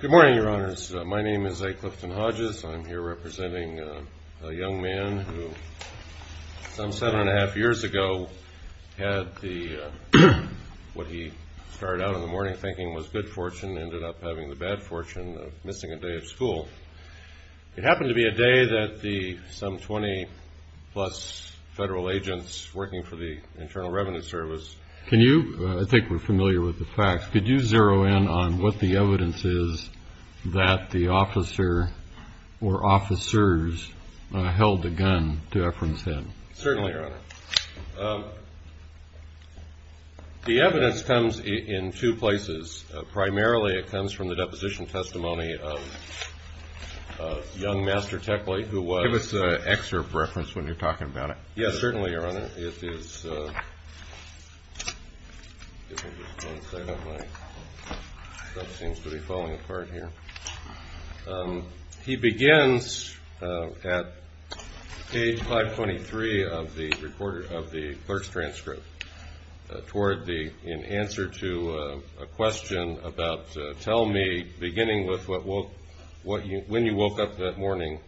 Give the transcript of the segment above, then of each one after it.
Good morning, Your Honors. My name is A. Clifton Hodges. I'm here representing a young man who some seven and a half years ago had what he started out in the morning thinking was good fortune, ended up having the bad fortune of missing a day of school. It happened to be a day that some 20-plus federal agents working for the Internal Revenue Service… I think we're familiar with the facts. Could you zero in on what the evidence is that the officer or officers held a gun to Ephraim's head? Certainly, Your Honor. The evidence comes in two places. Primarily, it comes from the deposition testimony of young Master Tekle, who was… Give us an excerpt reference when you're talking about it. Yes, certainly, Your Honor. He begins at page 523 of the clerk's transcript in answer to a question about, tell me, beginning with when you woke up that morning,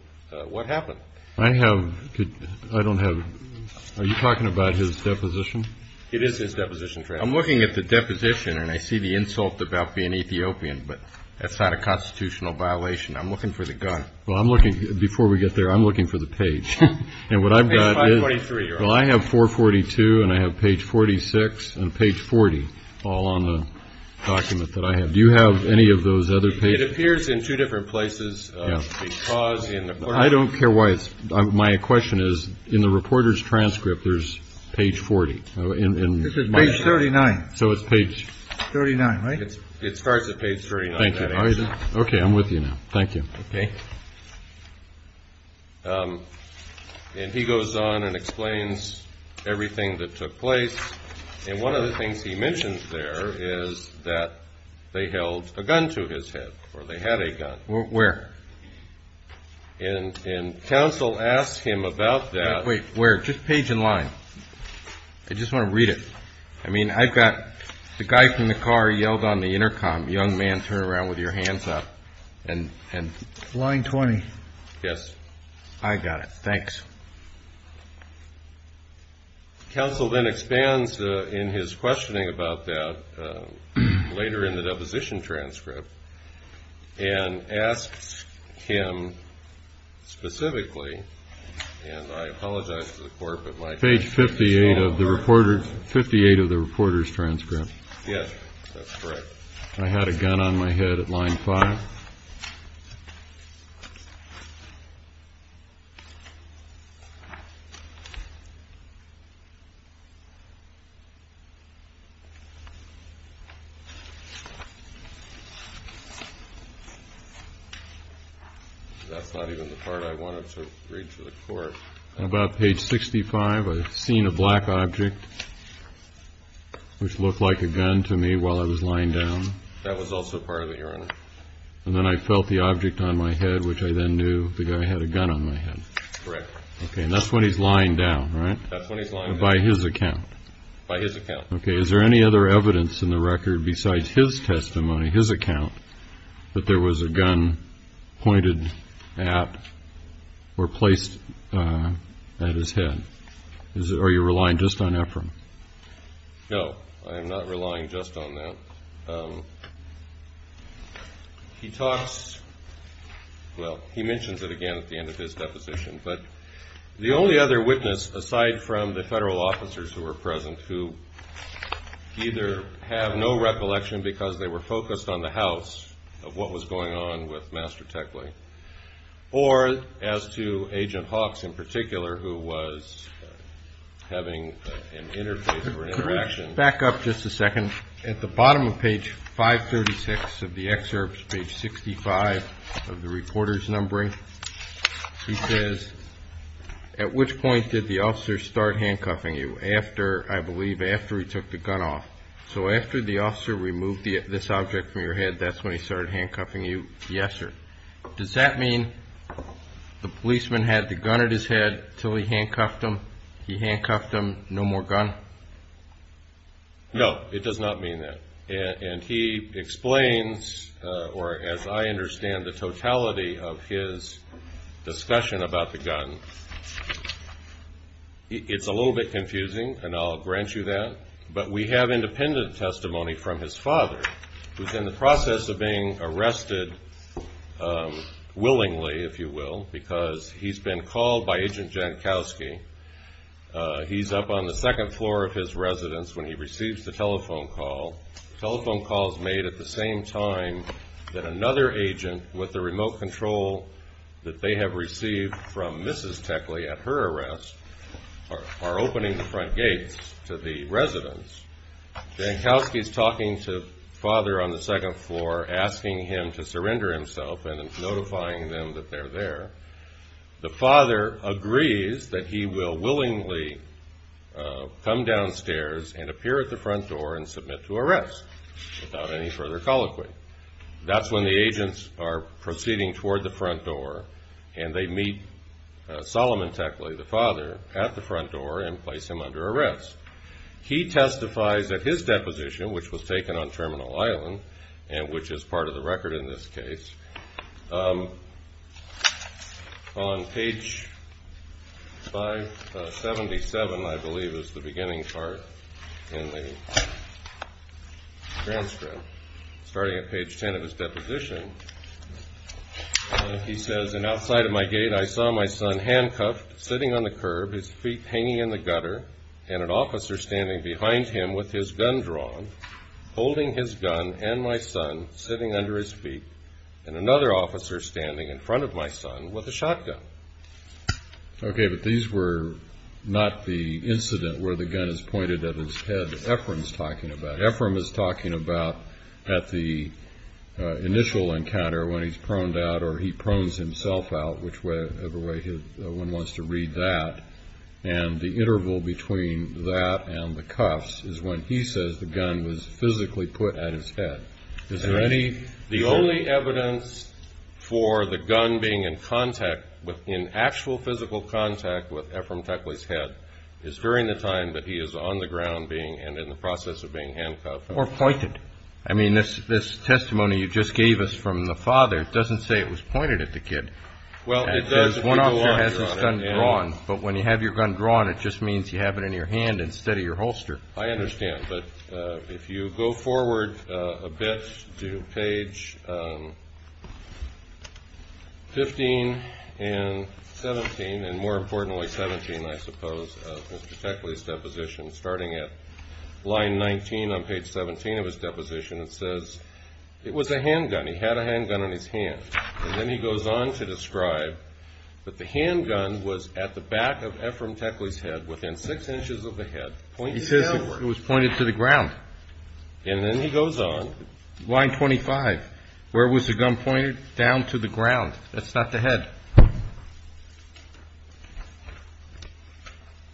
what happened? I have… I don't have… Are you talking about his deposition? It is his deposition transcript. I'm looking at the deposition, and I see the insult about being Ethiopian, but that's not a constitutional violation. I'm looking for the gun. Well, I'm looking… Before we get there, I'm looking for the page. Page 523, Your Honor. Well, I have 442 and I have page 46 and page 40 all on the document that I have. Do you have any of those other pages? It appears in two different places. Yes. I don't care why it's… My question is, in the reporter's transcript, there's page 40. This is page 39. So it's page… 39, right? It starts at page 39. Thank you. Okay, I'm with you now. Thank you. Okay. And he goes on and explains everything that took place, and one of the things he mentions there is that they held a gun to his head, or they had a gun. Where? And counsel asks him about that. Wait, where? Just page and line. I just want to read it. I mean, I've got… The guy from the car yelled on the intercom, young man, turn around with your hands up, and… Line 20. Yes. I got it. Thanks. Counsel then expands in his questioning about that later in the deposition transcript and asks him specifically, and I apologize to the court, but my… Page 58 of the reporter's transcript. Yes, that's correct. I had a gun on my head at line 5. That's not even the part I wanted to read to the court. About page 65, I seen a black object, which looked like a gun to me while I was lying down. That was also part of it, Your Honor. And then I felt the object on my head, which I then knew the guy had a gun on my head. Correct. Okay, and that's when he's lying down, right? That's when he's lying down. By his account? By his account. Okay. Is there any other evidence in the record besides his testimony, his account, that there was a gun pointed at or placed at his head? Are you relying just on Ephraim? No, I am not relying just on that. He talks, well, he mentions it again at the end of his deposition, but the only other witness, aside from the federal officers who were present, who either have no recollection because they were focused on the house, of what was going on with Master Teckley, or Agent Hawks in particular, who was having an interface or an interaction. Could we back up just a second? At the bottom of page 536 of the excerpt, page 65 of the reporter's numbering, he says, at which point did the officer start handcuffing you? After, I believe, after he took the gun off. So after the officer removed this object from your Does that mean the policeman had the gun at his head until he handcuffed him? He handcuffed him, no more gun? No, it does not mean that. And he explains, or as I understand the totality of his discussion about the gun, it's a little bit confusing, and I'll grant you that, but we have independent testimony from his father, who's in the process of being arrested willingly, if you will, because he's been called by Agent Jankowski. He's up on the second floor of his residence when he receives the telephone call. The telephone call is made at the same time that another agent with the remote control that they have received from Mrs. Teckley at her arrest are Jankowski's talking to father on the second floor, asking him to surrender himself and notifying them that they're there. The father agrees that he will willingly come downstairs and appear at the front door and submit to arrest without any further colloquy. That's when the agents are proceeding toward the front door and they meet Solomon Teckley, the father, at the deposition, which was taken on Terminal Island and which is part of the record in this case. On page 577, I believe, is the beginning part in the transcript, starting at page 10 of his deposition, he says, and outside of my gate I saw my son handcuffed, sitting on the curb, his feet folded, holding his gun and my son sitting under his feet, and another officer standing in front of my son with a shotgun. Okay, but these were not the incident where the gun is pointed at his head that Ephraim's talking about. Ephraim is talking about at the initial encounter when he's proned out or he prones himself out, whichever way one wants to read that, and the interval between that and the cuffs is when he says the gun was physically put at his head. Is there any... The only evidence for the gun being in contact, in actual physical contact, with Ephraim Teckley's head is during the time that he is on the ground and in the process of being handcuffed. Or pointed. I mean, this testimony you just gave us from the father doesn't say it was pointed at the hand instead of your holster. I understand, but if you go forward a bit to page 15 and 17, and more importantly 17, I suppose, of Mr. Teckley's deposition, starting at line 19 on page 17 of his deposition, it says it was a handgun. He had a handgun in his hand. And then he goes on to describe that the handgun was at the back of Ephraim Teckley's head, within six inches of the head, pointing downward. He says it was pointed to the ground. And then he goes on... Line 25. Where was the gun pointed? Down to the ground. That's not the head.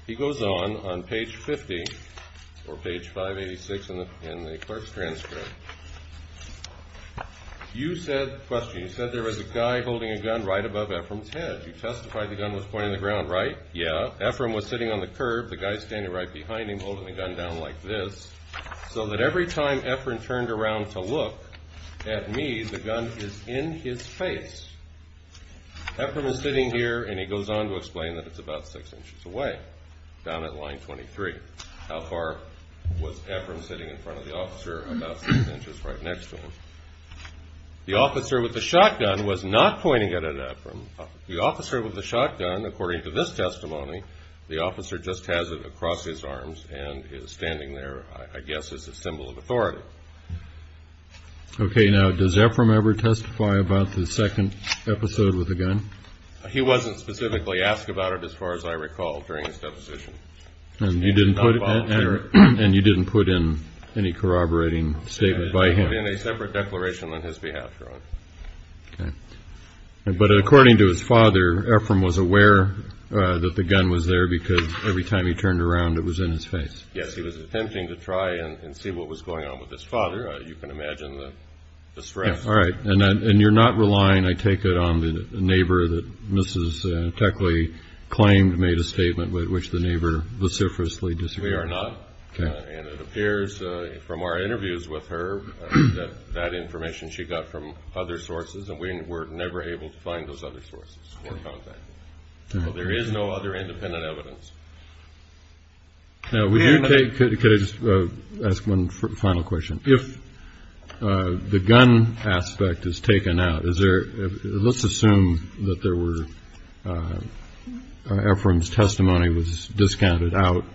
He goes on, on page 50, or page 586 in the clerk's transcript. You said, question, you said there was a guy holding a gun right above Ephraim's head. You testified the gun was pointing to the ground, right? Yeah. Ephraim was sitting on the curb. The guy standing right behind him holding the gun down like this. So that every time Ephraim turned around to look at me, the gun is in his face. Ephraim is sitting here, and he goes on to explain that it's about six inches away, down at line 23. How far was Ephraim sitting in front of the officer? About six inches right next to him. The officer with the shotgun was not pointing at Ephraim. The officer with the shotgun, according to this testimony, the officer just has it across his arms and is standing there, I guess, as a symbol of authority. Okay. Now, does Ephraim ever testify about the second episode with the gun? He wasn't specifically asked about it, as far as I recall, during his deposition. And you didn't put in any corroborating statement by him? We put in a separate declaration on his behalf, Ron. Okay. But according to his father, Ephraim was aware that the gun was there because every time he turned around, it was in his face. Yes, he was attempting to try and see what was going on with his father. You can imagine the stress. All right. And you're not relying, I take it, on the neighbor that Mrs. Teckley claimed made a statement with which the neighbor vociferously disagreed? We are not, and it appears from our interviews with her that that information she got from other sources, and we were never able to find those other sources or contact them. So there is no other independent evidence. Now, could I just ask one final question? If the gun aspect is taken out, let's assume that Ephraim's testimony was discounted out,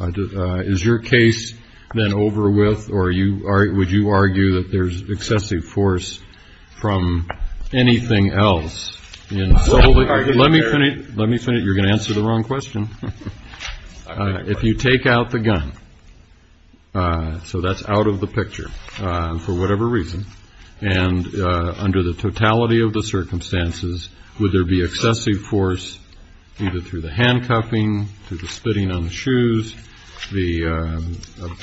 is your case then over with or would you argue that there's excessive force from anything else? Let me finish. You're going to answer the wrong question. If you take out the gun, so that's out of the picture for whatever reason, and under the totality of the circumstances, would there be excessive force either through the handcuffing, through the spitting on the shoes, the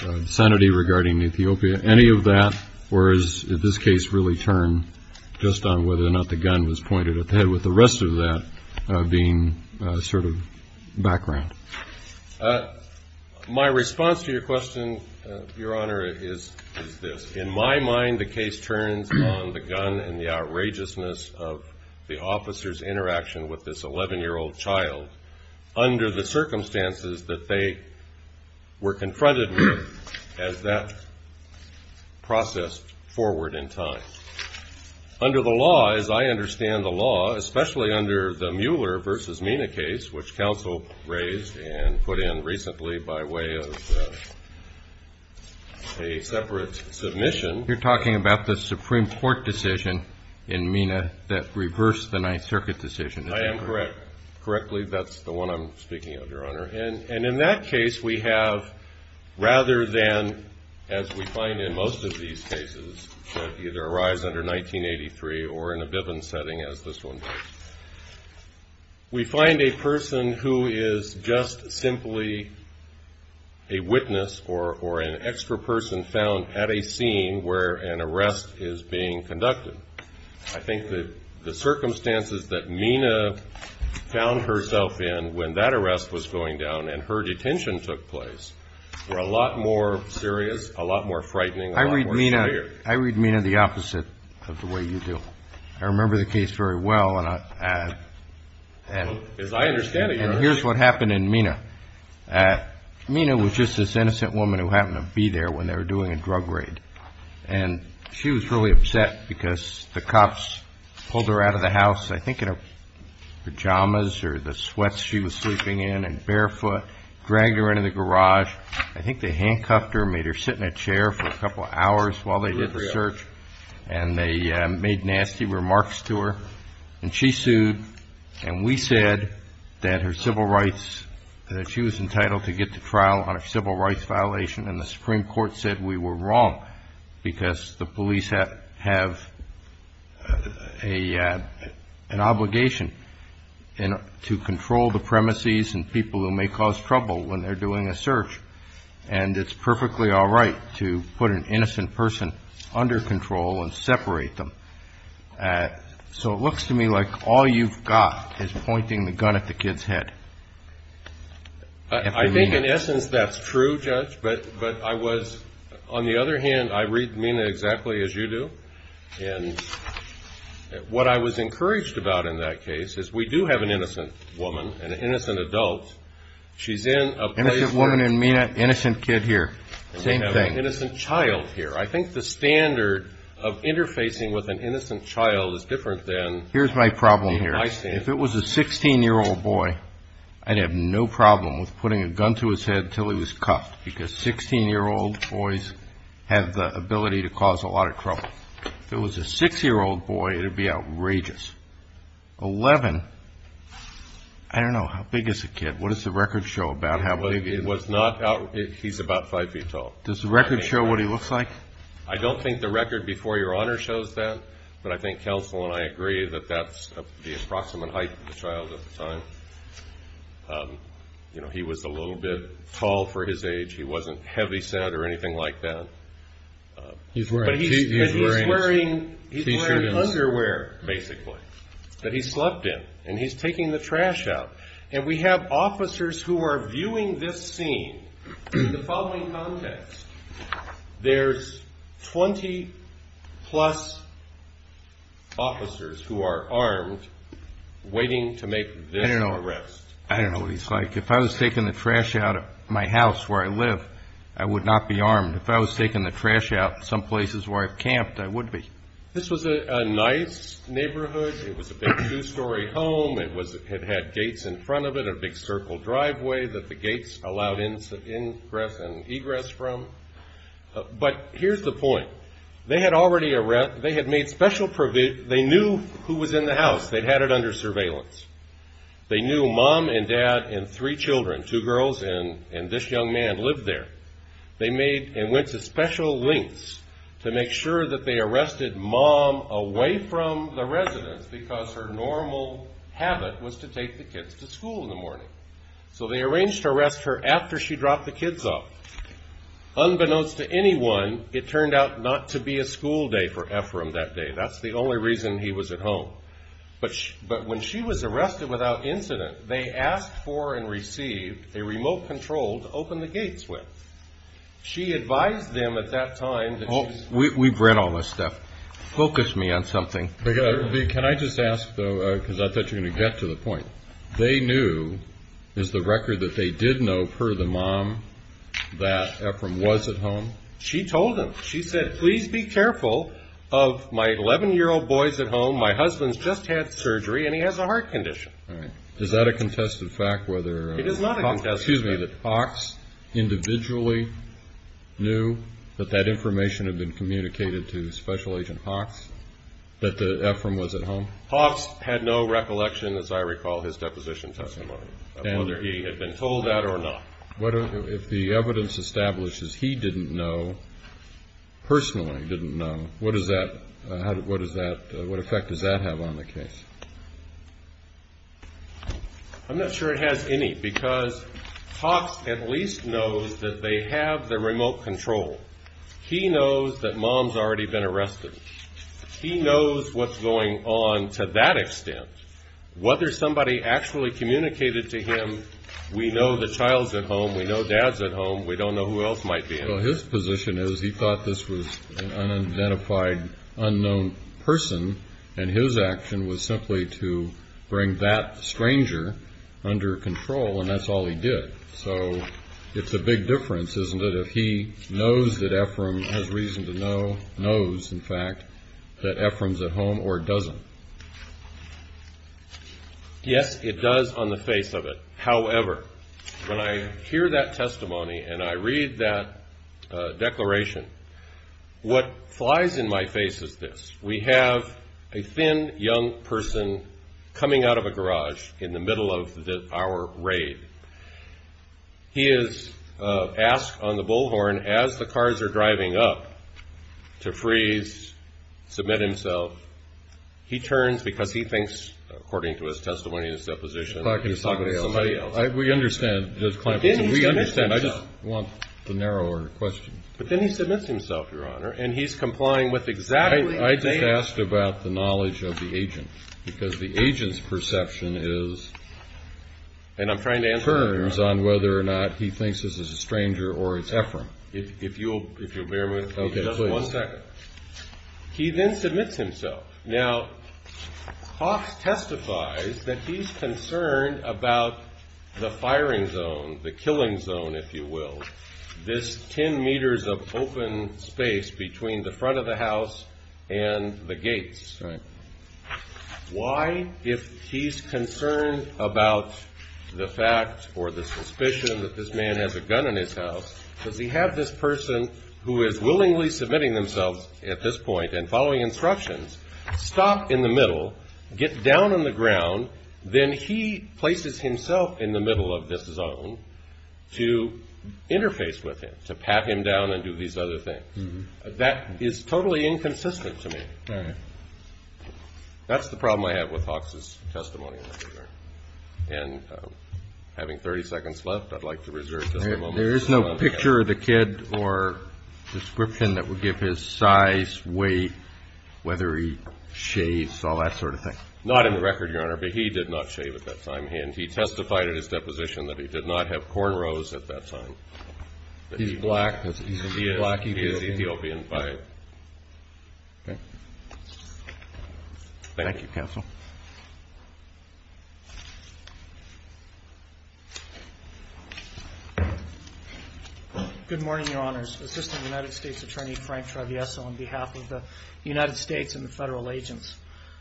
obscenity regarding Ethiopia, any of that, or is this case really turned just on whether or not the gun was pointed at the head with the rest of that being sort of background? My response to your question, Your Honor, is this. In my mind, the case turns on the gun and the outrageousness of the officer's interaction with this 11-year-old child under the circumstances that they were confronted with as that process forward in time. Under the law, as I understand the law, especially under the Mueller v. Mina case, which counsel raised and put in recently by way of a separate submission. You're talking about the Supreme Court decision in Mina that reversed the Ninth Circuit decision. I am correct. Correctly, that's the one I'm speaking of, Your Honor. And in that case, we have rather than, as we find in most of these cases, that either arise under 1983 or in a Bivens setting as this one does, we find a person who is just simply a witness or an extra person found at a scene where an arrest is being conducted. I think that the circumstances that Mina found herself in when that arrest was going down and her detention took place were a lot more serious, a lot more frightening, a lot more severe. I read Mina the opposite of the way you do. I remember the case very well. As I understand it, Your Honor. And here's what happened in Mina. Mina was just this innocent woman who happened to be there when they were doing a drug raid. And she was really upset because the cops pulled her out of the house, I think in her pajamas or the sweats she was sleeping in, and barefoot, dragged her into the garage. I think they handcuffed her, made her sit in a chair for a couple of hours while they did the search, and they made nasty remarks to her. And she sued, and we said that her civil rights, that she was entitled to get to trial on a civil rights violation, and the Supreme Court said we were wrong because the police have an obligation to control the premises and people who may cause trouble when they're doing a search. And it's perfectly all right to put an innocent person under control and separate them. So it looks to me like all you've got is pointing the gun at the kid's head. I think in essence that's true, Judge. But I was, on the other hand, I read Mina exactly as you do. And what I was encouraged about in that case is we do have an innocent woman and an innocent adult. She's in a place where... Innocent woman in Mina, innocent kid here. Same thing. And we have an innocent child here. I think the standard of interfacing with an innocent child is different than... Here's my problem here. If it was a 16-year-old boy, I'd have no problem with putting a gun to his head until he was cuffed because 16-year-old boys have the ability to cause a lot of trouble. If it was a 6-year-old boy, it would be outrageous. 11, I don't know, how big is the kid? What does the record show about how big he is? He's about 5 feet tall. Does the record show what he looks like? I don't think the record before Your Honor shows that, but I think counsel and I agree that that's the approximate height of the child at the time. He was a little bit tall for his age. He wasn't heavyset or anything like that. But he's wearing underwear, basically, that he slept in, and he's taking the trash out. And we have officers who are viewing this scene in the following context. There's 20-plus officers who are armed waiting to make this arrest. I don't know what he's like. If I was taking the trash out of my house where I live, I would not be armed. If I was taking the trash out of some places where I've camped, I would be. This was a nice neighborhood. It was a big two-story home. It had gates in front of it, a big circle driveway that the gates allowed ingress and egress from. But here's the point. They had made special provision. They knew who was in the house. They'd had it under surveillance. They knew Mom and Dad and three children, two girls, and this young man lived there. They made and went to special lengths to make sure that they arrested Mom away from the residence because her normal habit was to take the kids to school in the morning. So they arranged to arrest her after she dropped the kids off. Unbeknownst to anyone, it turned out not to be a school day for Ephraim that day. That's the only reason he was at home. But when she was arrested without incident, they asked for and received a remote control to open the gates with. She advised them at that time that she's... We've read all this stuff. Focus me on something. Can I just ask, though, because I thought you were going to get to the point. They knew, is the record that they did know per the mom, that Ephraim was at home? She told them. She said, please be careful of my 11-year-old boys at home. My husband's just had surgery and he has a heart condition. All right. Is that a contested fact whether... It is not a contested fact. Excuse me, that Hawks individually knew that that information had been communicated to Special Agent Hawks, that Ephraim was at home? Hawks had no recollection, as I recall, his deposition testimony of whether he had been told that or not. If the evidence establishes he didn't know, personally didn't know, what effect does that have on the case? I'm not sure it has any, because Hawks at least knows that they have the remote control. He knows that mom's already been arrested. He knows what's going on to that extent. Whether somebody actually communicated to him, we know the child's at home, we know dad's at home, we don't know who else might be in there. Well, his position is he thought this was an unidentified, unknown person, and his action was simply to bring that stranger under control, and that's all he did. So it's a big difference, isn't it, if he knows that Ephraim has reason to know, knows, in fact, that Ephraim's at home or doesn't. Yes, it does on the face of it. However, when I hear that testimony and I read that declaration, what flies in my face is this. We have a thin, young person coming out of a garage in the middle of our raid. He is asked on the bullhorn, as the cars are driving up, to freeze, submit himself. He turns, because he thinks, according to his testimony and his deposition, he's talking to somebody else. We understand, Judge Kleinfeld. We understand. I just want the narrower question. But then he submits himself, Your Honor, and he's complying with exactly the same. I just asked about the knowledge of the agent, because the agent's perception is, turns on whether or not he thinks this is a stranger or it's Ephraim. Okay, please. He then submits himself. Now, Cox testifies that he's concerned about the firing zone, the killing zone, if you will, this ten meters of open space between the front of the house and the gates. Right. Why, if he's concerned about the fact or the suspicion that this man has a gun in his house, does he have this person who is willingly submitting themselves at this point and following instructions, stop in the middle, get down on the ground, then he places himself in the middle of this zone to interface with him, to pat him down and do these other things? That is totally inconsistent to me. All right. That's the problem I have with Cox's testimony. And having 30 seconds left, I'd like to reserve just a moment. There is no picture of the kid or description that would give his size, weight, whether he shaves, all that sort of thing? Not in the record, Your Honor, but he did not shave at that time. And he testified at his deposition that he did not have cornrows at that time. He's black, because he's a black Ethiopian. Thank you, Counsel. Good morning, Your Honors. Assistant United States Attorney Frank Travieso on behalf of the United States and the federal agents.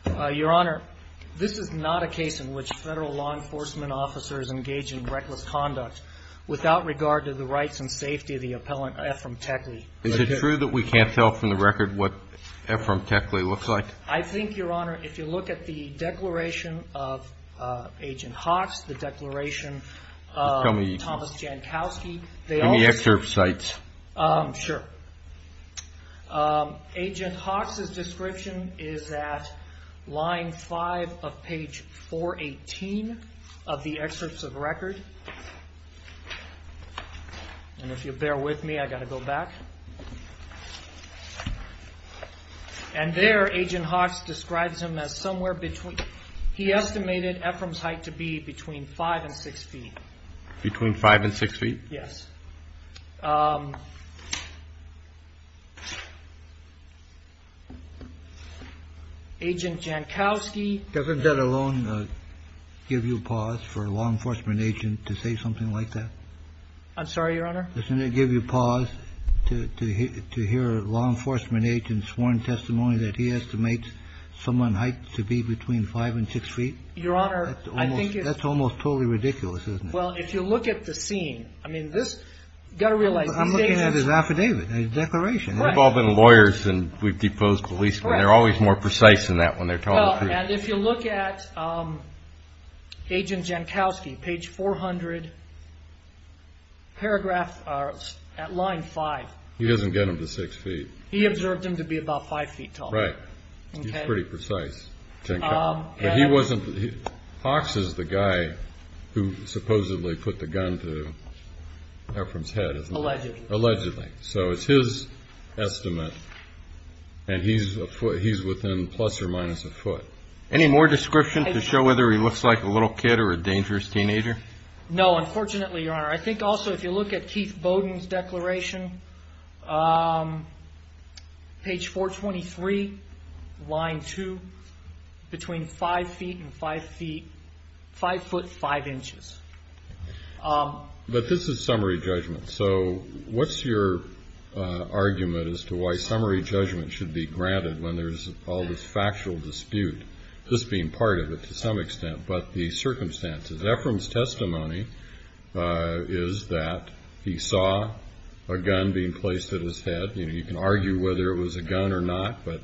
Your Honor, this is not a case in which federal law enforcement officers engage in reckless conduct without regard to the rights and safety of the appellant Ephraim Teckley. Is it true that we can't tell from the record what Ephraim Teckley looks like? I think, Your Honor, if you look at the declaration of Agent Hawks, the declaration of Thomas Jankowski. Tell me the excerpt sites. Sure. Agent Hawks' description is at line 5 of page 418 of the excerpts of the record. And if you'll bear with me, I've got to go back. And there, Agent Hawks describes him as somewhere between. He estimated Ephraim's height to be between 5 and 6 feet. Between 5 and 6 feet? Yes. Agent Jankowski. Doesn't that alone give you pause for a law enforcement agent to say something like that? I'm sorry, Your Honor? Doesn't it give you pause to hear a law enforcement agent's sworn testimony that he estimates someone's height to be between 5 and 6 feet? Your Honor, I think it's. That's almost totally ridiculous, isn't it? Well, if you look at the scene, I mean, you've got to realize. I'm looking at his affidavit, his declaration. We've all been lawyers and we've deposed policemen. They're always more precise than that when they're telling the truth. And if you look at Agent Jankowski, page 400, paragraph at line 5. He doesn't get him to 6 feet. He observed him to be about 5 feet tall. Right. He's pretty precise, Jankowski. But he wasn't. Fox is the guy who supposedly put the gun to Ephraim's head, isn't he? Allegedly. Allegedly. So it's his estimate. And he's within plus or minus a foot. Any more description to show whether he looks like a little kid or a dangerous teenager? No, unfortunately, Your Honor. I think also if you look at Keith Bowden's declaration, page 423, line 2, between 5 feet and 5 feet, 5 foot, 5 inches. But this is summary judgment. So what's your argument as to why summary judgment should be granted when there's all this factual dispute? This being part of it to some extent. Ephraim's testimony is that he saw a gun being placed at his head. You can argue whether it was a gun or not. But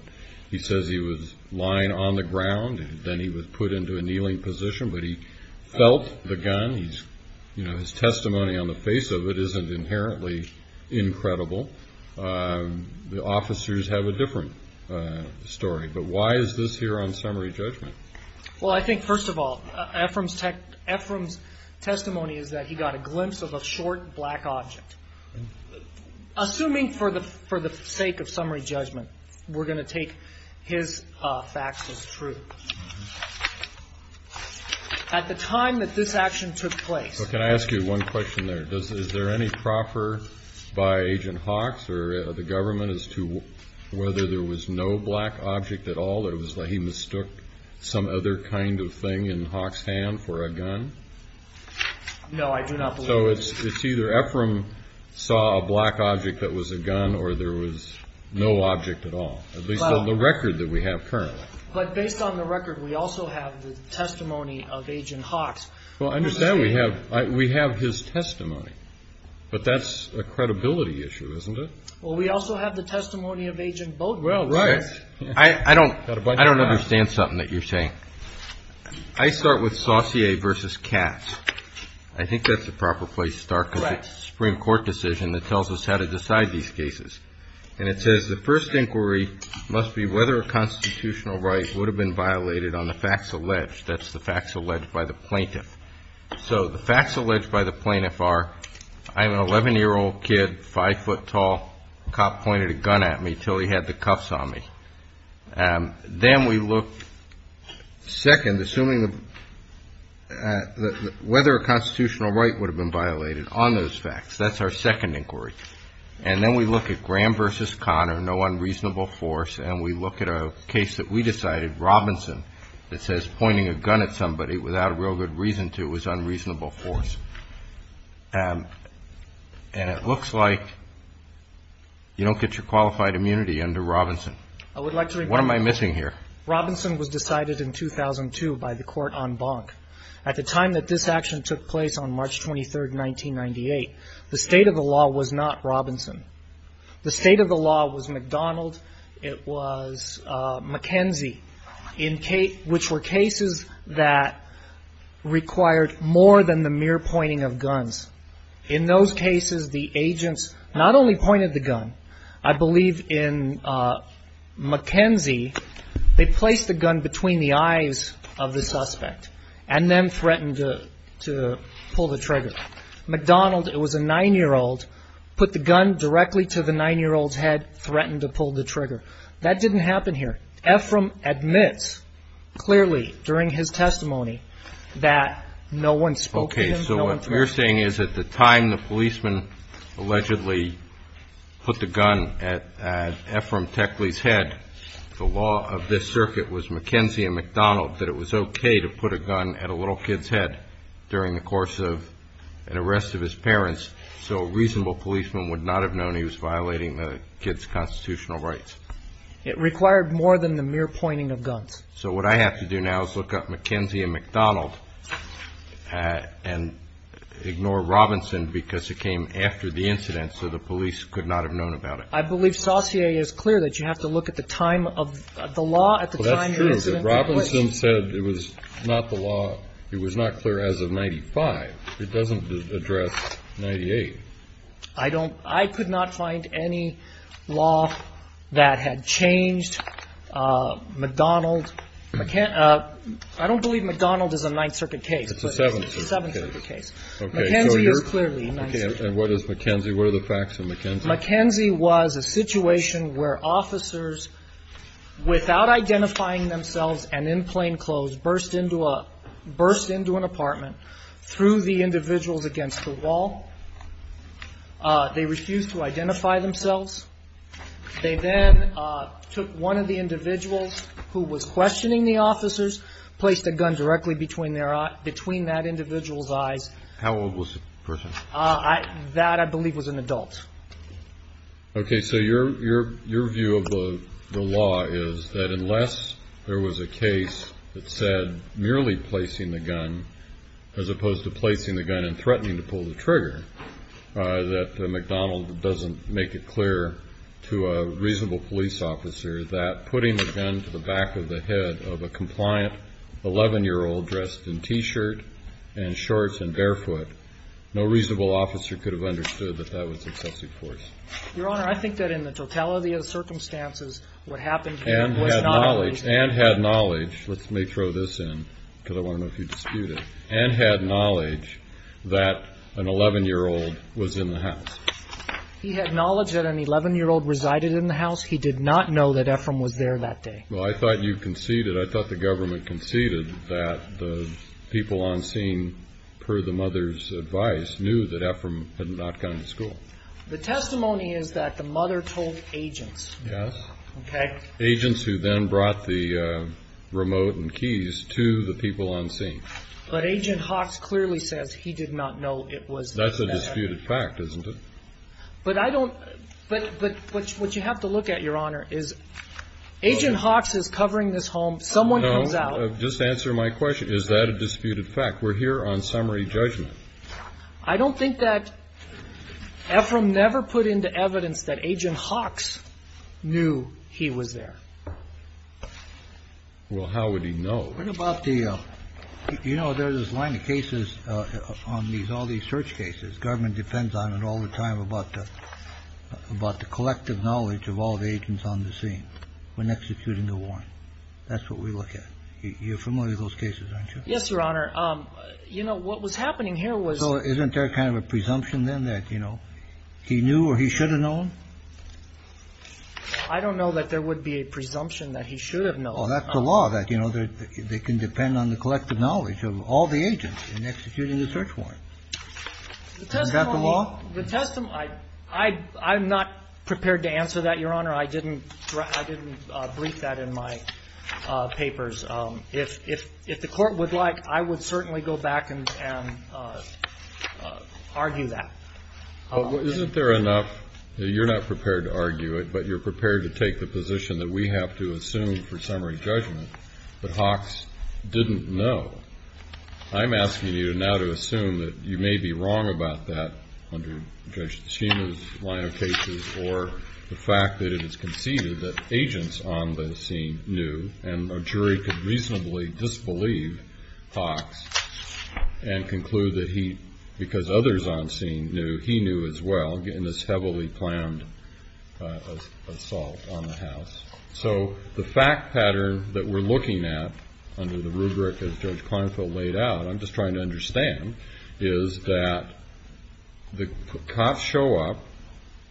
he says he was lying on the ground and then he was put into a kneeling position. But he felt the gun. His testimony on the face of it isn't inherently incredible. The officers have a different story. But why is this here on summary judgment? Well, I think, first of all, Ephraim's testimony is that he got a glimpse of a short black object. Assuming for the sake of summary judgment, we're going to take his facts as true. At the time that this action took place. Can I ask you one question there? Is there any proffer by Agent Hawks or the government as to whether there was no black object at all? It was like he mistook some other kind of thing in Hawks' hand for a gun? No, I do not believe that. So it's either Ephraim saw a black object that was a gun or there was no object at all. At least on the record that we have currently. But based on the record, we also have the testimony of Agent Hawks. Well, I understand we have his testimony. But that's a credibility issue, isn't it? Well, we also have the testimony of Agent Bode. Well, right. I don't understand something that you're saying. I start with Saucier v. Katz. I think that's the proper place to start because it's a Supreme Court decision that tells us how to decide these cases. And it says the first inquiry must be whether a constitutional right would have been violated on the facts alleged. That's the facts alleged by the plaintiff. So the facts alleged by the plaintiff are I'm an 11-year-old kid, 5-foot tall, a cop pointed a gun at me until he had the cuffs on me. Then we look second, assuming whether a constitutional right would have been violated on those facts. That's our second inquiry. And then we look at Graham v. Conner, no unreasonable force, and we look at a case that we decided, Robinson, that says pointing a gun at somebody without a real good reason to was unreasonable force. And it looks like you don't get your qualified immunity under Robinson. What am I missing here? Robinson was decided in 2002 by the court on Bonk. At the time that this action took place on March 23, 1998, the state of the law was not Robinson. The state of the law was McDonald. It was McKenzie, which were cases that required more than the mere pointing of guns. In those cases, the agents not only pointed the gun. I believe in McKenzie, they placed the gun between the eyes of the suspect and then threatened to pull the trigger. McDonald, it was a 9-year-old, put the gun directly to the 9-year-old's head, threatened to pull the trigger. That didn't happen here. Ephraim admits clearly during his testimony that no one spoke to him. Okay, so what you're saying is at the time the policeman allegedly put the gun at Ephraim Techley's head, the law of this circuit was McKenzie and McDonald, that it was okay to put a gun at a little kid's head during the course of an arrest of his parents so a reasonable policeman would not have known he was violating the kid's constitutional rights. It required more than the mere pointing of guns. So what I have to do now is look up McKenzie and McDonald and ignore Robinson because it came after the incident so the police could not have known about it. I believe Saussure is clear that you have to look at the time of the law at the time of the incident. Well, that's true. If Robinson said it was not the law, it was not clear as of 1995. It doesn't address 1998. I could not find any law that had changed McDonald. I don't believe McDonald is a Ninth Circuit case. It's a Seventh Circuit case. It's a Seventh Circuit case. McKenzie is clearly a Ninth Circuit case. Okay, and what is McKenzie? What are the facts of McKenzie? McKenzie was a situation where officers, without identifying themselves and in plain clothes, burst into an apartment, threw the individuals against the wall. They refused to identify themselves. They then took one of the individuals who was questioning the officers, placed a gun directly between that individual's eyes. How old was the person? That, I believe, was an adult. Okay, so your view of the law is that unless there was a case that said merely placing the gun, as opposed to placing the gun and threatening to pull the trigger, that McDonald doesn't make it clear to a reasonable police officer that putting the gun to the back of the head of a compliant 11-year-old dressed in T-shirt and shorts and barefoot, no reasonable officer could have understood that that was excessive force? Your Honor, I think that in the totality of the circumstances, what happened here was not reasonable. And had knowledge. And had knowledge. Let me throw this in, because I want to know if you dispute it. And had knowledge that an 11-year-old was in the house. He had knowledge that an 11-year-old resided in the house. He did not know that Ephraim was there that day. Well, I thought you conceded, I thought the government conceded, that the people on scene, per the mother's advice, knew that Ephraim had not gone to school. The testimony is that the mother told agents. Yes. Okay. Agents who then brought the remote and keys to the people on scene. But Agent Hawks clearly says he did not know it was. That's a disputed fact, isn't it? But I don't, but what you have to look at, Your Honor, is Agent Hawks is covering this home. Someone comes out. Just to answer my question, is that a disputed fact? We're here on summary judgment. I don't think that Ephraim never put into evidence that Agent Hawks knew he was there. Well, how would he know? What about the, you know, there's this line of cases on these, all these search cases. Government depends on it all the time about the collective knowledge of all the agents on the scene when executing the warrant. That's what we look at. You're familiar with those cases, aren't you? Yes, Your Honor. You know, what was happening here was. So isn't there kind of a presumption then that, you know, he knew or he should have known? I don't know that there would be a presumption that he should have known. Well, that's the law, that, you know, they can depend on the collective knowledge of all the agents in executing the search warrant. Isn't that the law? The testimony. I'm not prepared to answer that, Your Honor. I didn't brief that in my papers. If the Court would like, I would certainly go back and argue that. Well, isn't there enough? You're not prepared to argue it, but you're prepared to take the position that we have to assume for summary judgment that Hawks didn't know. I'm asking you now to assume that you may be wrong about that under Judge Ticino's line of cases or the fact that it is conceded that agents on the scene knew and a jury could reasonably disbelieve Hawks and conclude that he, because others on scene knew, he knew as well in this heavily planned assault on the house. So the fact pattern that we're looking at under the rubric as Judge Klinefeld laid out, I'm just trying to understand, is that the cops show up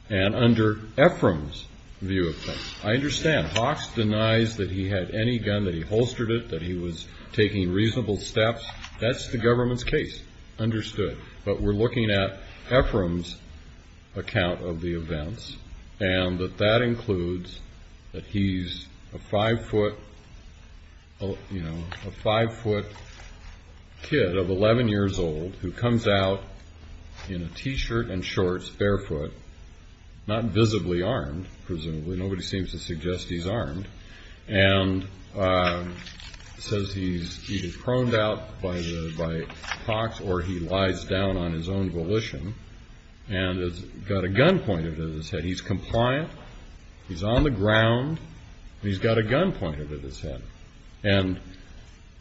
and under Ephraim's view of things, I understand Hawks denies that he had any gun, that he holstered it, that he was taking reasonable steps. That's the government's case. Understood. But we're looking at Ephraim's account of the events and that that includes that he's a five-foot kid of 11 years old who comes out in a T-shirt and shorts, barefoot, not visibly armed, presumably. Nobody seems to suggest he's armed, and says he's either proned out by Hawks or he lies down on his own volition and has got a gun pointed at his head. He's compliant, he's on the ground, and he's got a gun pointed at his head. And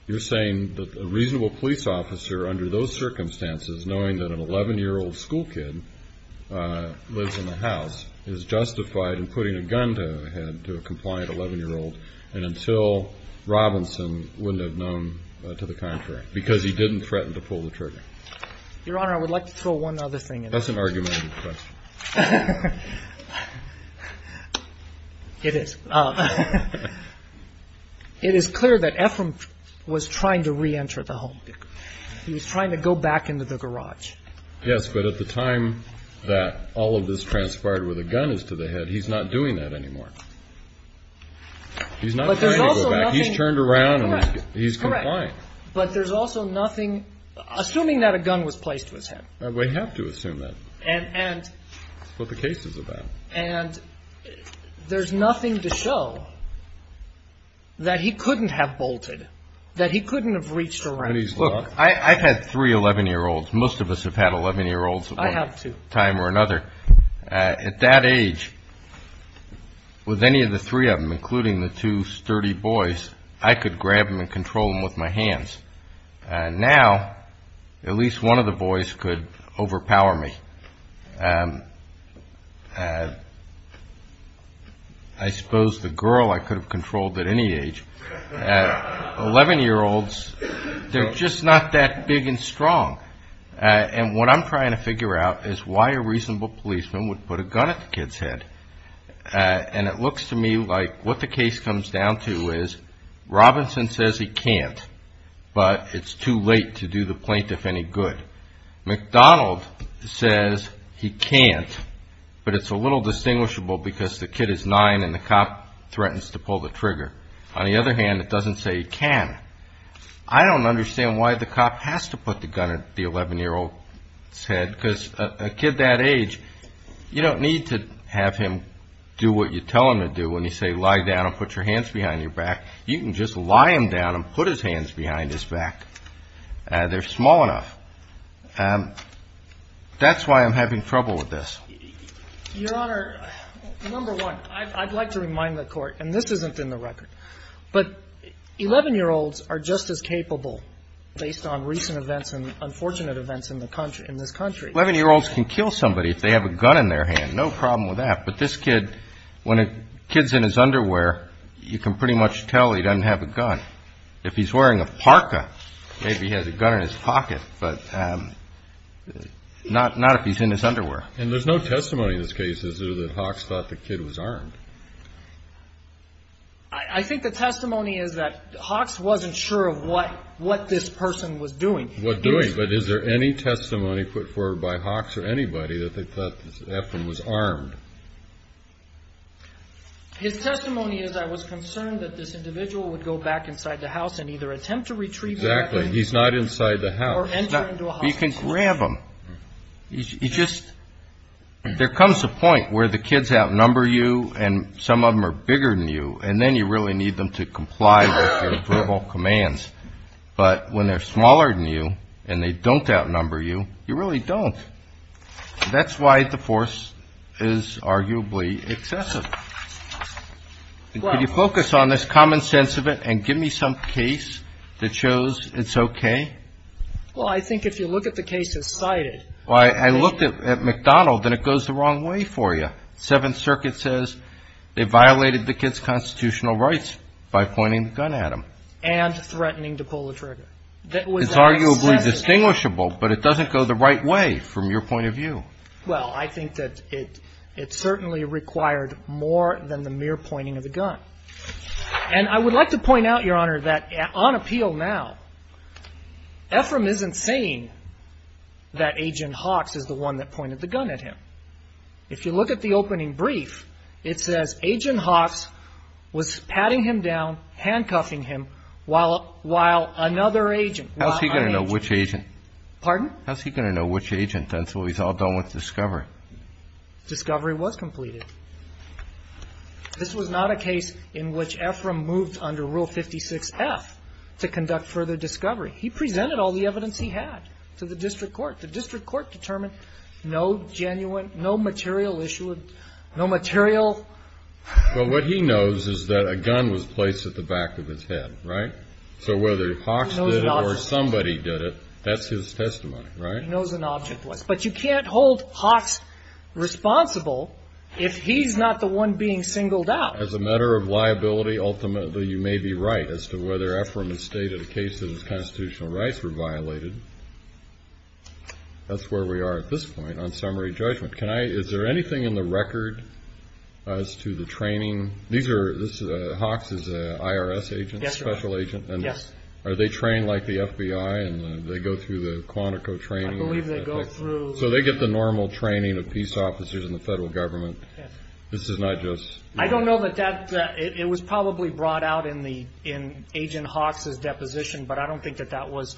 you're saying that a reasonable police officer under those circumstances, knowing that an 11-year-old school kid lives in the house, is justified in putting a gun to a head to a compliant 11-year-old and until Robinson wouldn't have known to the contrary because he didn't threaten to pull the trigger. Your Honor, I would like to throw one other thing in there. That's an argumentative question. It is. It is clear that Ephraim was trying to reenter the home. He was trying to go back into the garage. Yes, but at the time that all of this transpired with a gun is to the head, he's not doing that anymore. He's not trying to go back. He's turned around and he's compliant. Correct. But there's also nothing assuming that a gun was placed to his head. We have to assume that. That's what the case is about. And there's nothing to show that he couldn't have bolted, that he couldn't have reached around. Look, I've had three 11-year-olds. Most of us have had 11-year-olds at one time or another. I have, too. At that age, with any of the three of them, including the two sturdy boys, I could grab them and control them with my hands. Now, at least one of the boys could overpower me. I suppose the girl I could have controlled at any age. 11-year-olds, they're just not that big and strong. And what I'm trying to figure out is why a reasonable policeman would put a gun at the kid's head. And it looks to me like what the case comes down to is Robinson says he can't, but it's too late to do the plaintiff any good. McDonald says he can't, but it's a little distinguishable because the kid is 9 and the cop threatens to pull the trigger. On the other hand, it doesn't say he can. I don't understand why the cop has to put the gun at the 11-year-old's head because a kid that age, you don't need to have him do what you tell him to do when you say lie down and put your hands behind your back. You can just lie him down and put his hands behind his back. They're small enough. That's why I'm having trouble with this. Your Honor, number one, I'd like to remind the Court, and this isn't in the record, but 11-year-olds are just as capable based on recent events and unfortunate events in this country. 11-year-olds can kill somebody if they have a gun in their hand. No problem with that. But this kid, when a kid's in his underwear, you can pretty much tell he doesn't have a gun. If he's wearing a parka, maybe he has a gun in his pocket, but not if he's in his underwear. And there's no testimony in this case, is there, that Hawks thought the kid was armed? I think the testimony is that Hawks wasn't sure of what this person was doing. What doing? But is there any testimony put forward by Hawks or anybody that they thought Eflin was armed? His testimony is I was concerned that this individual would go back inside the house and either attempt to retrieve the weapon or enter into a hospital. Exactly. He's not inside the house. Or enter into a hospital. You can grab him. There comes a point where the kids outnumber you and some of them are bigger than you, and then you really need them to comply with your verbal commands. But when they're smaller than you and they don't outnumber you, you really don't. That's why the force is arguably excessive. Could you focus on this common sense of it and give me some case that shows it's okay? Well, I think if you look at the cases cited. I looked at McDonald and it goes the wrong way for you. Seventh Circuit says they violated the kid's constitutional rights by pointing the gun at him. And threatening to pull the trigger. It's arguably distinguishable, but it doesn't go the right way from your point of view. Well, I think that it certainly required more than the mere pointing of the gun. And I would like to point out, Your Honor, that on appeal now, Ephraim isn't saying that Agent Hawks is the one that pointed the gun at him. If you look at the opening brief, it says, Agent Hawks was patting him down, handcuffing him while another agent. How's he going to know which agent? Pardon? How's he going to know which agent until he's all done with discovery? Discovery was completed. This was not a case in which Ephraim moved under Rule 56F to conduct further discovery. He presented all the evidence he had to the district court. The district court determined no genuine, no material issue, no material. Well, what he knows is that a gun was placed at the back of his head, right? So whether Hawks did it or somebody did it, that's his testimony. He knows an object was. But you can't hold Hawks responsible if he's not the one being singled out. As a matter of liability, ultimately, you may be right as to whether Ephraim has stated a case that his constitutional rights were violated. That's where we are at this point on summary judgment. Is there anything in the record as to the training? Yes, Your Honor. Are they trained like the FBI and they go through the Quantico training? I believe they go through. So they get the normal training of peace officers in the federal government? Yes. This is not just. I don't know that that. It was probably brought out in Agent Hawks' deposition, but I don't think that that was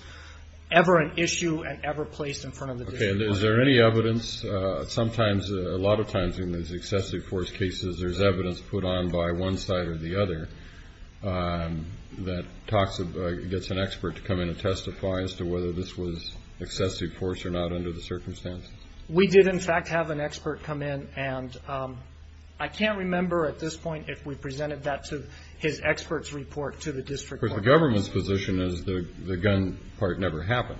ever an issue and ever placed in front of the district court. Is there any evidence? Sometimes, a lot of times in these excessive force cases, there's evidence put on by one side or the other that talks, gets an expert to come in and testify as to whether this was excessive force or not under the circumstances. We did, in fact, have an expert come in. And I can't remember at this point if we presented that to his expert's report to the district court. But the government's position is the gun part never happened.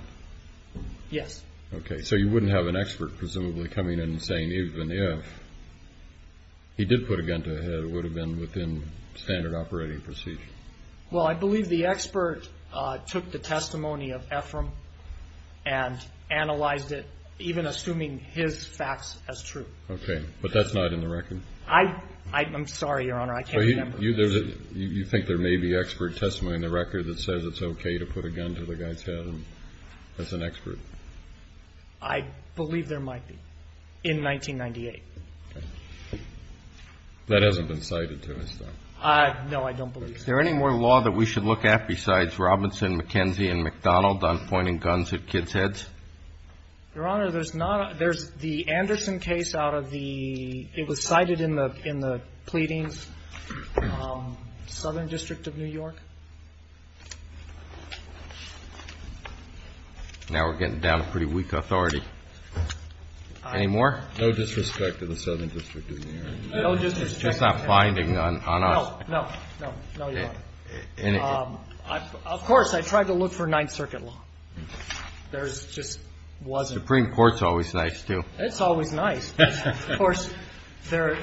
Yes. Okay. So you wouldn't have an expert presumably coming in and saying even if he did put a gun to his head, it would have been within standard operating procedure? Well, I believe the expert took the testimony of Ephraim and analyzed it, even assuming his facts as true. Okay. But that's not in the record? I'm sorry, Your Honor. I can't remember. You think there may be expert testimony in the record that says it's okay to put a gun to the guy's head as an expert? I believe there might be in 1998. Okay. That hasn't been cited to us, though. No, I don't believe so. Is there any more law that we should look at besides Robinson, McKenzie and McDonald on pointing guns at kids' heads? Your Honor, there's not. There's the Anderson case out of the – it was cited in the pleadings, Southern District of New York. Now we're getting down to pretty weak authority. Any more? No disrespect to the Southern District of New York. No disrespect. It's just not finding on us. No, no, no, no, Your Honor. Of course, I tried to look for Ninth Circuit law. There just wasn't. The Supreme Court's always nice, too. It's always nice. Of course, there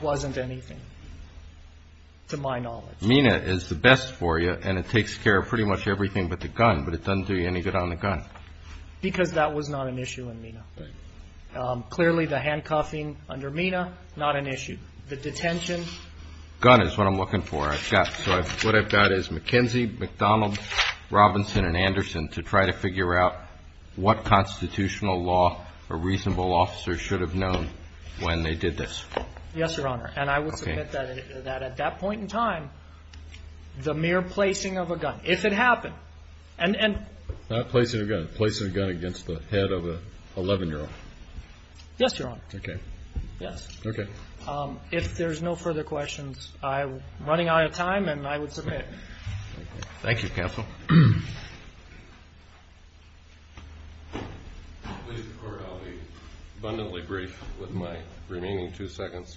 wasn't anything to my knowledge. Mina is the best for you, and it takes care of pretty much everything but the gun, but it doesn't do you any good on the gun. Because that was not an issue in Mina. Clearly, the handcuffing under Mina, not an issue. The detention. Gun is what I'm looking for. What I've got is McKenzie, McDonald, Robinson and Anderson to try to figure out what constitutional law a reasonable officer should have known when they did this. Yes, Your Honor. And I would submit that at that point in time, the mere placing of a gun, if it happened. Not placing a gun. Placing a gun against the head of an 11-year-old. Yes, Your Honor. Okay. Yes. Okay. If there's no further questions, I'm running out of time, and I would submit. Thank you, counsel. Ladies and court, I'll be abundantly brief with my remaining two seconds.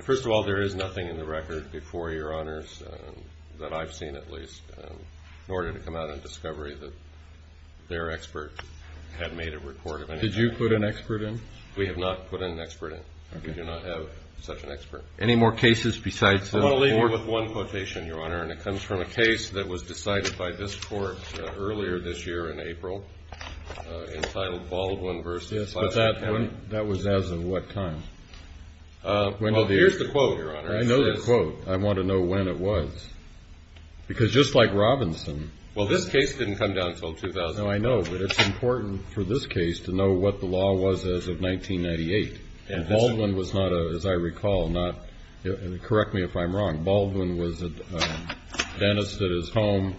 First of all, there is nothing in the record before Your Honors that I've seen at least in order to come out of discovery that their expert had made a report of anything. Did you put an expert in? We have not put an expert in. Okay. We do not have such an expert. Any more cases besides the court? I want to leave you with one quotation, Your Honor, and it comes from a case that was decided by this court earlier this year in April entitled Baldwin v. Yes, but that was as of what time? Well, here's the quote, Your Honor. I know the quote. I want to know when it was. Because just like Robinson. Well, this case didn't come down until 2009. No, I know, but it's important for this case to know what the law was as of 1998. And Baldwin was not, as I recall, correct me if I'm wrong, Baldwin was a dentist at his home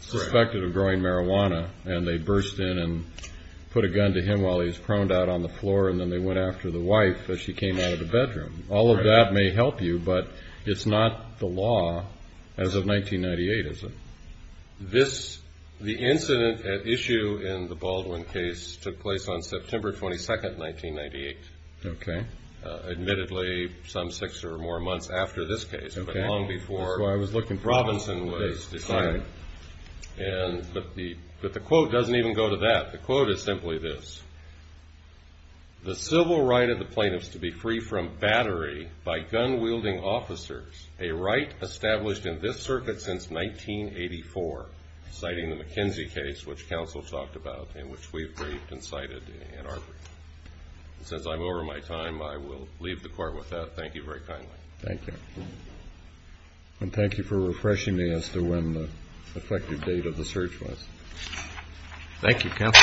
suspected of growing marijuana, and they burst in and put a gun to him while he was proned out on the floor, and then they went after the wife as she came out of the bedroom. All of that may help you, but it's not the law as of 1998, is it? The incident at issue in the Baldwin case took place on September 22, 1998. Okay. Admittedly, some six or more months after this case, but long before Robinson was decided. But the quote doesn't even go to that. The quote is simply this. The civil right of the plaintiffs to be free from battery by gun-wielding officers, a right established in this circuit since 1984, citing the McKenzie case which counsel talked about and which we've briefed and cited in our brief. And since I'm over my time, I will leave the court with that. Thank you very kindly. Thank you. And thank you for refreshing me as to when the effective date of the search was. Thank you, counsel.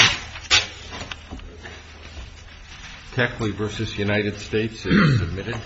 Techley v. United States is submitted.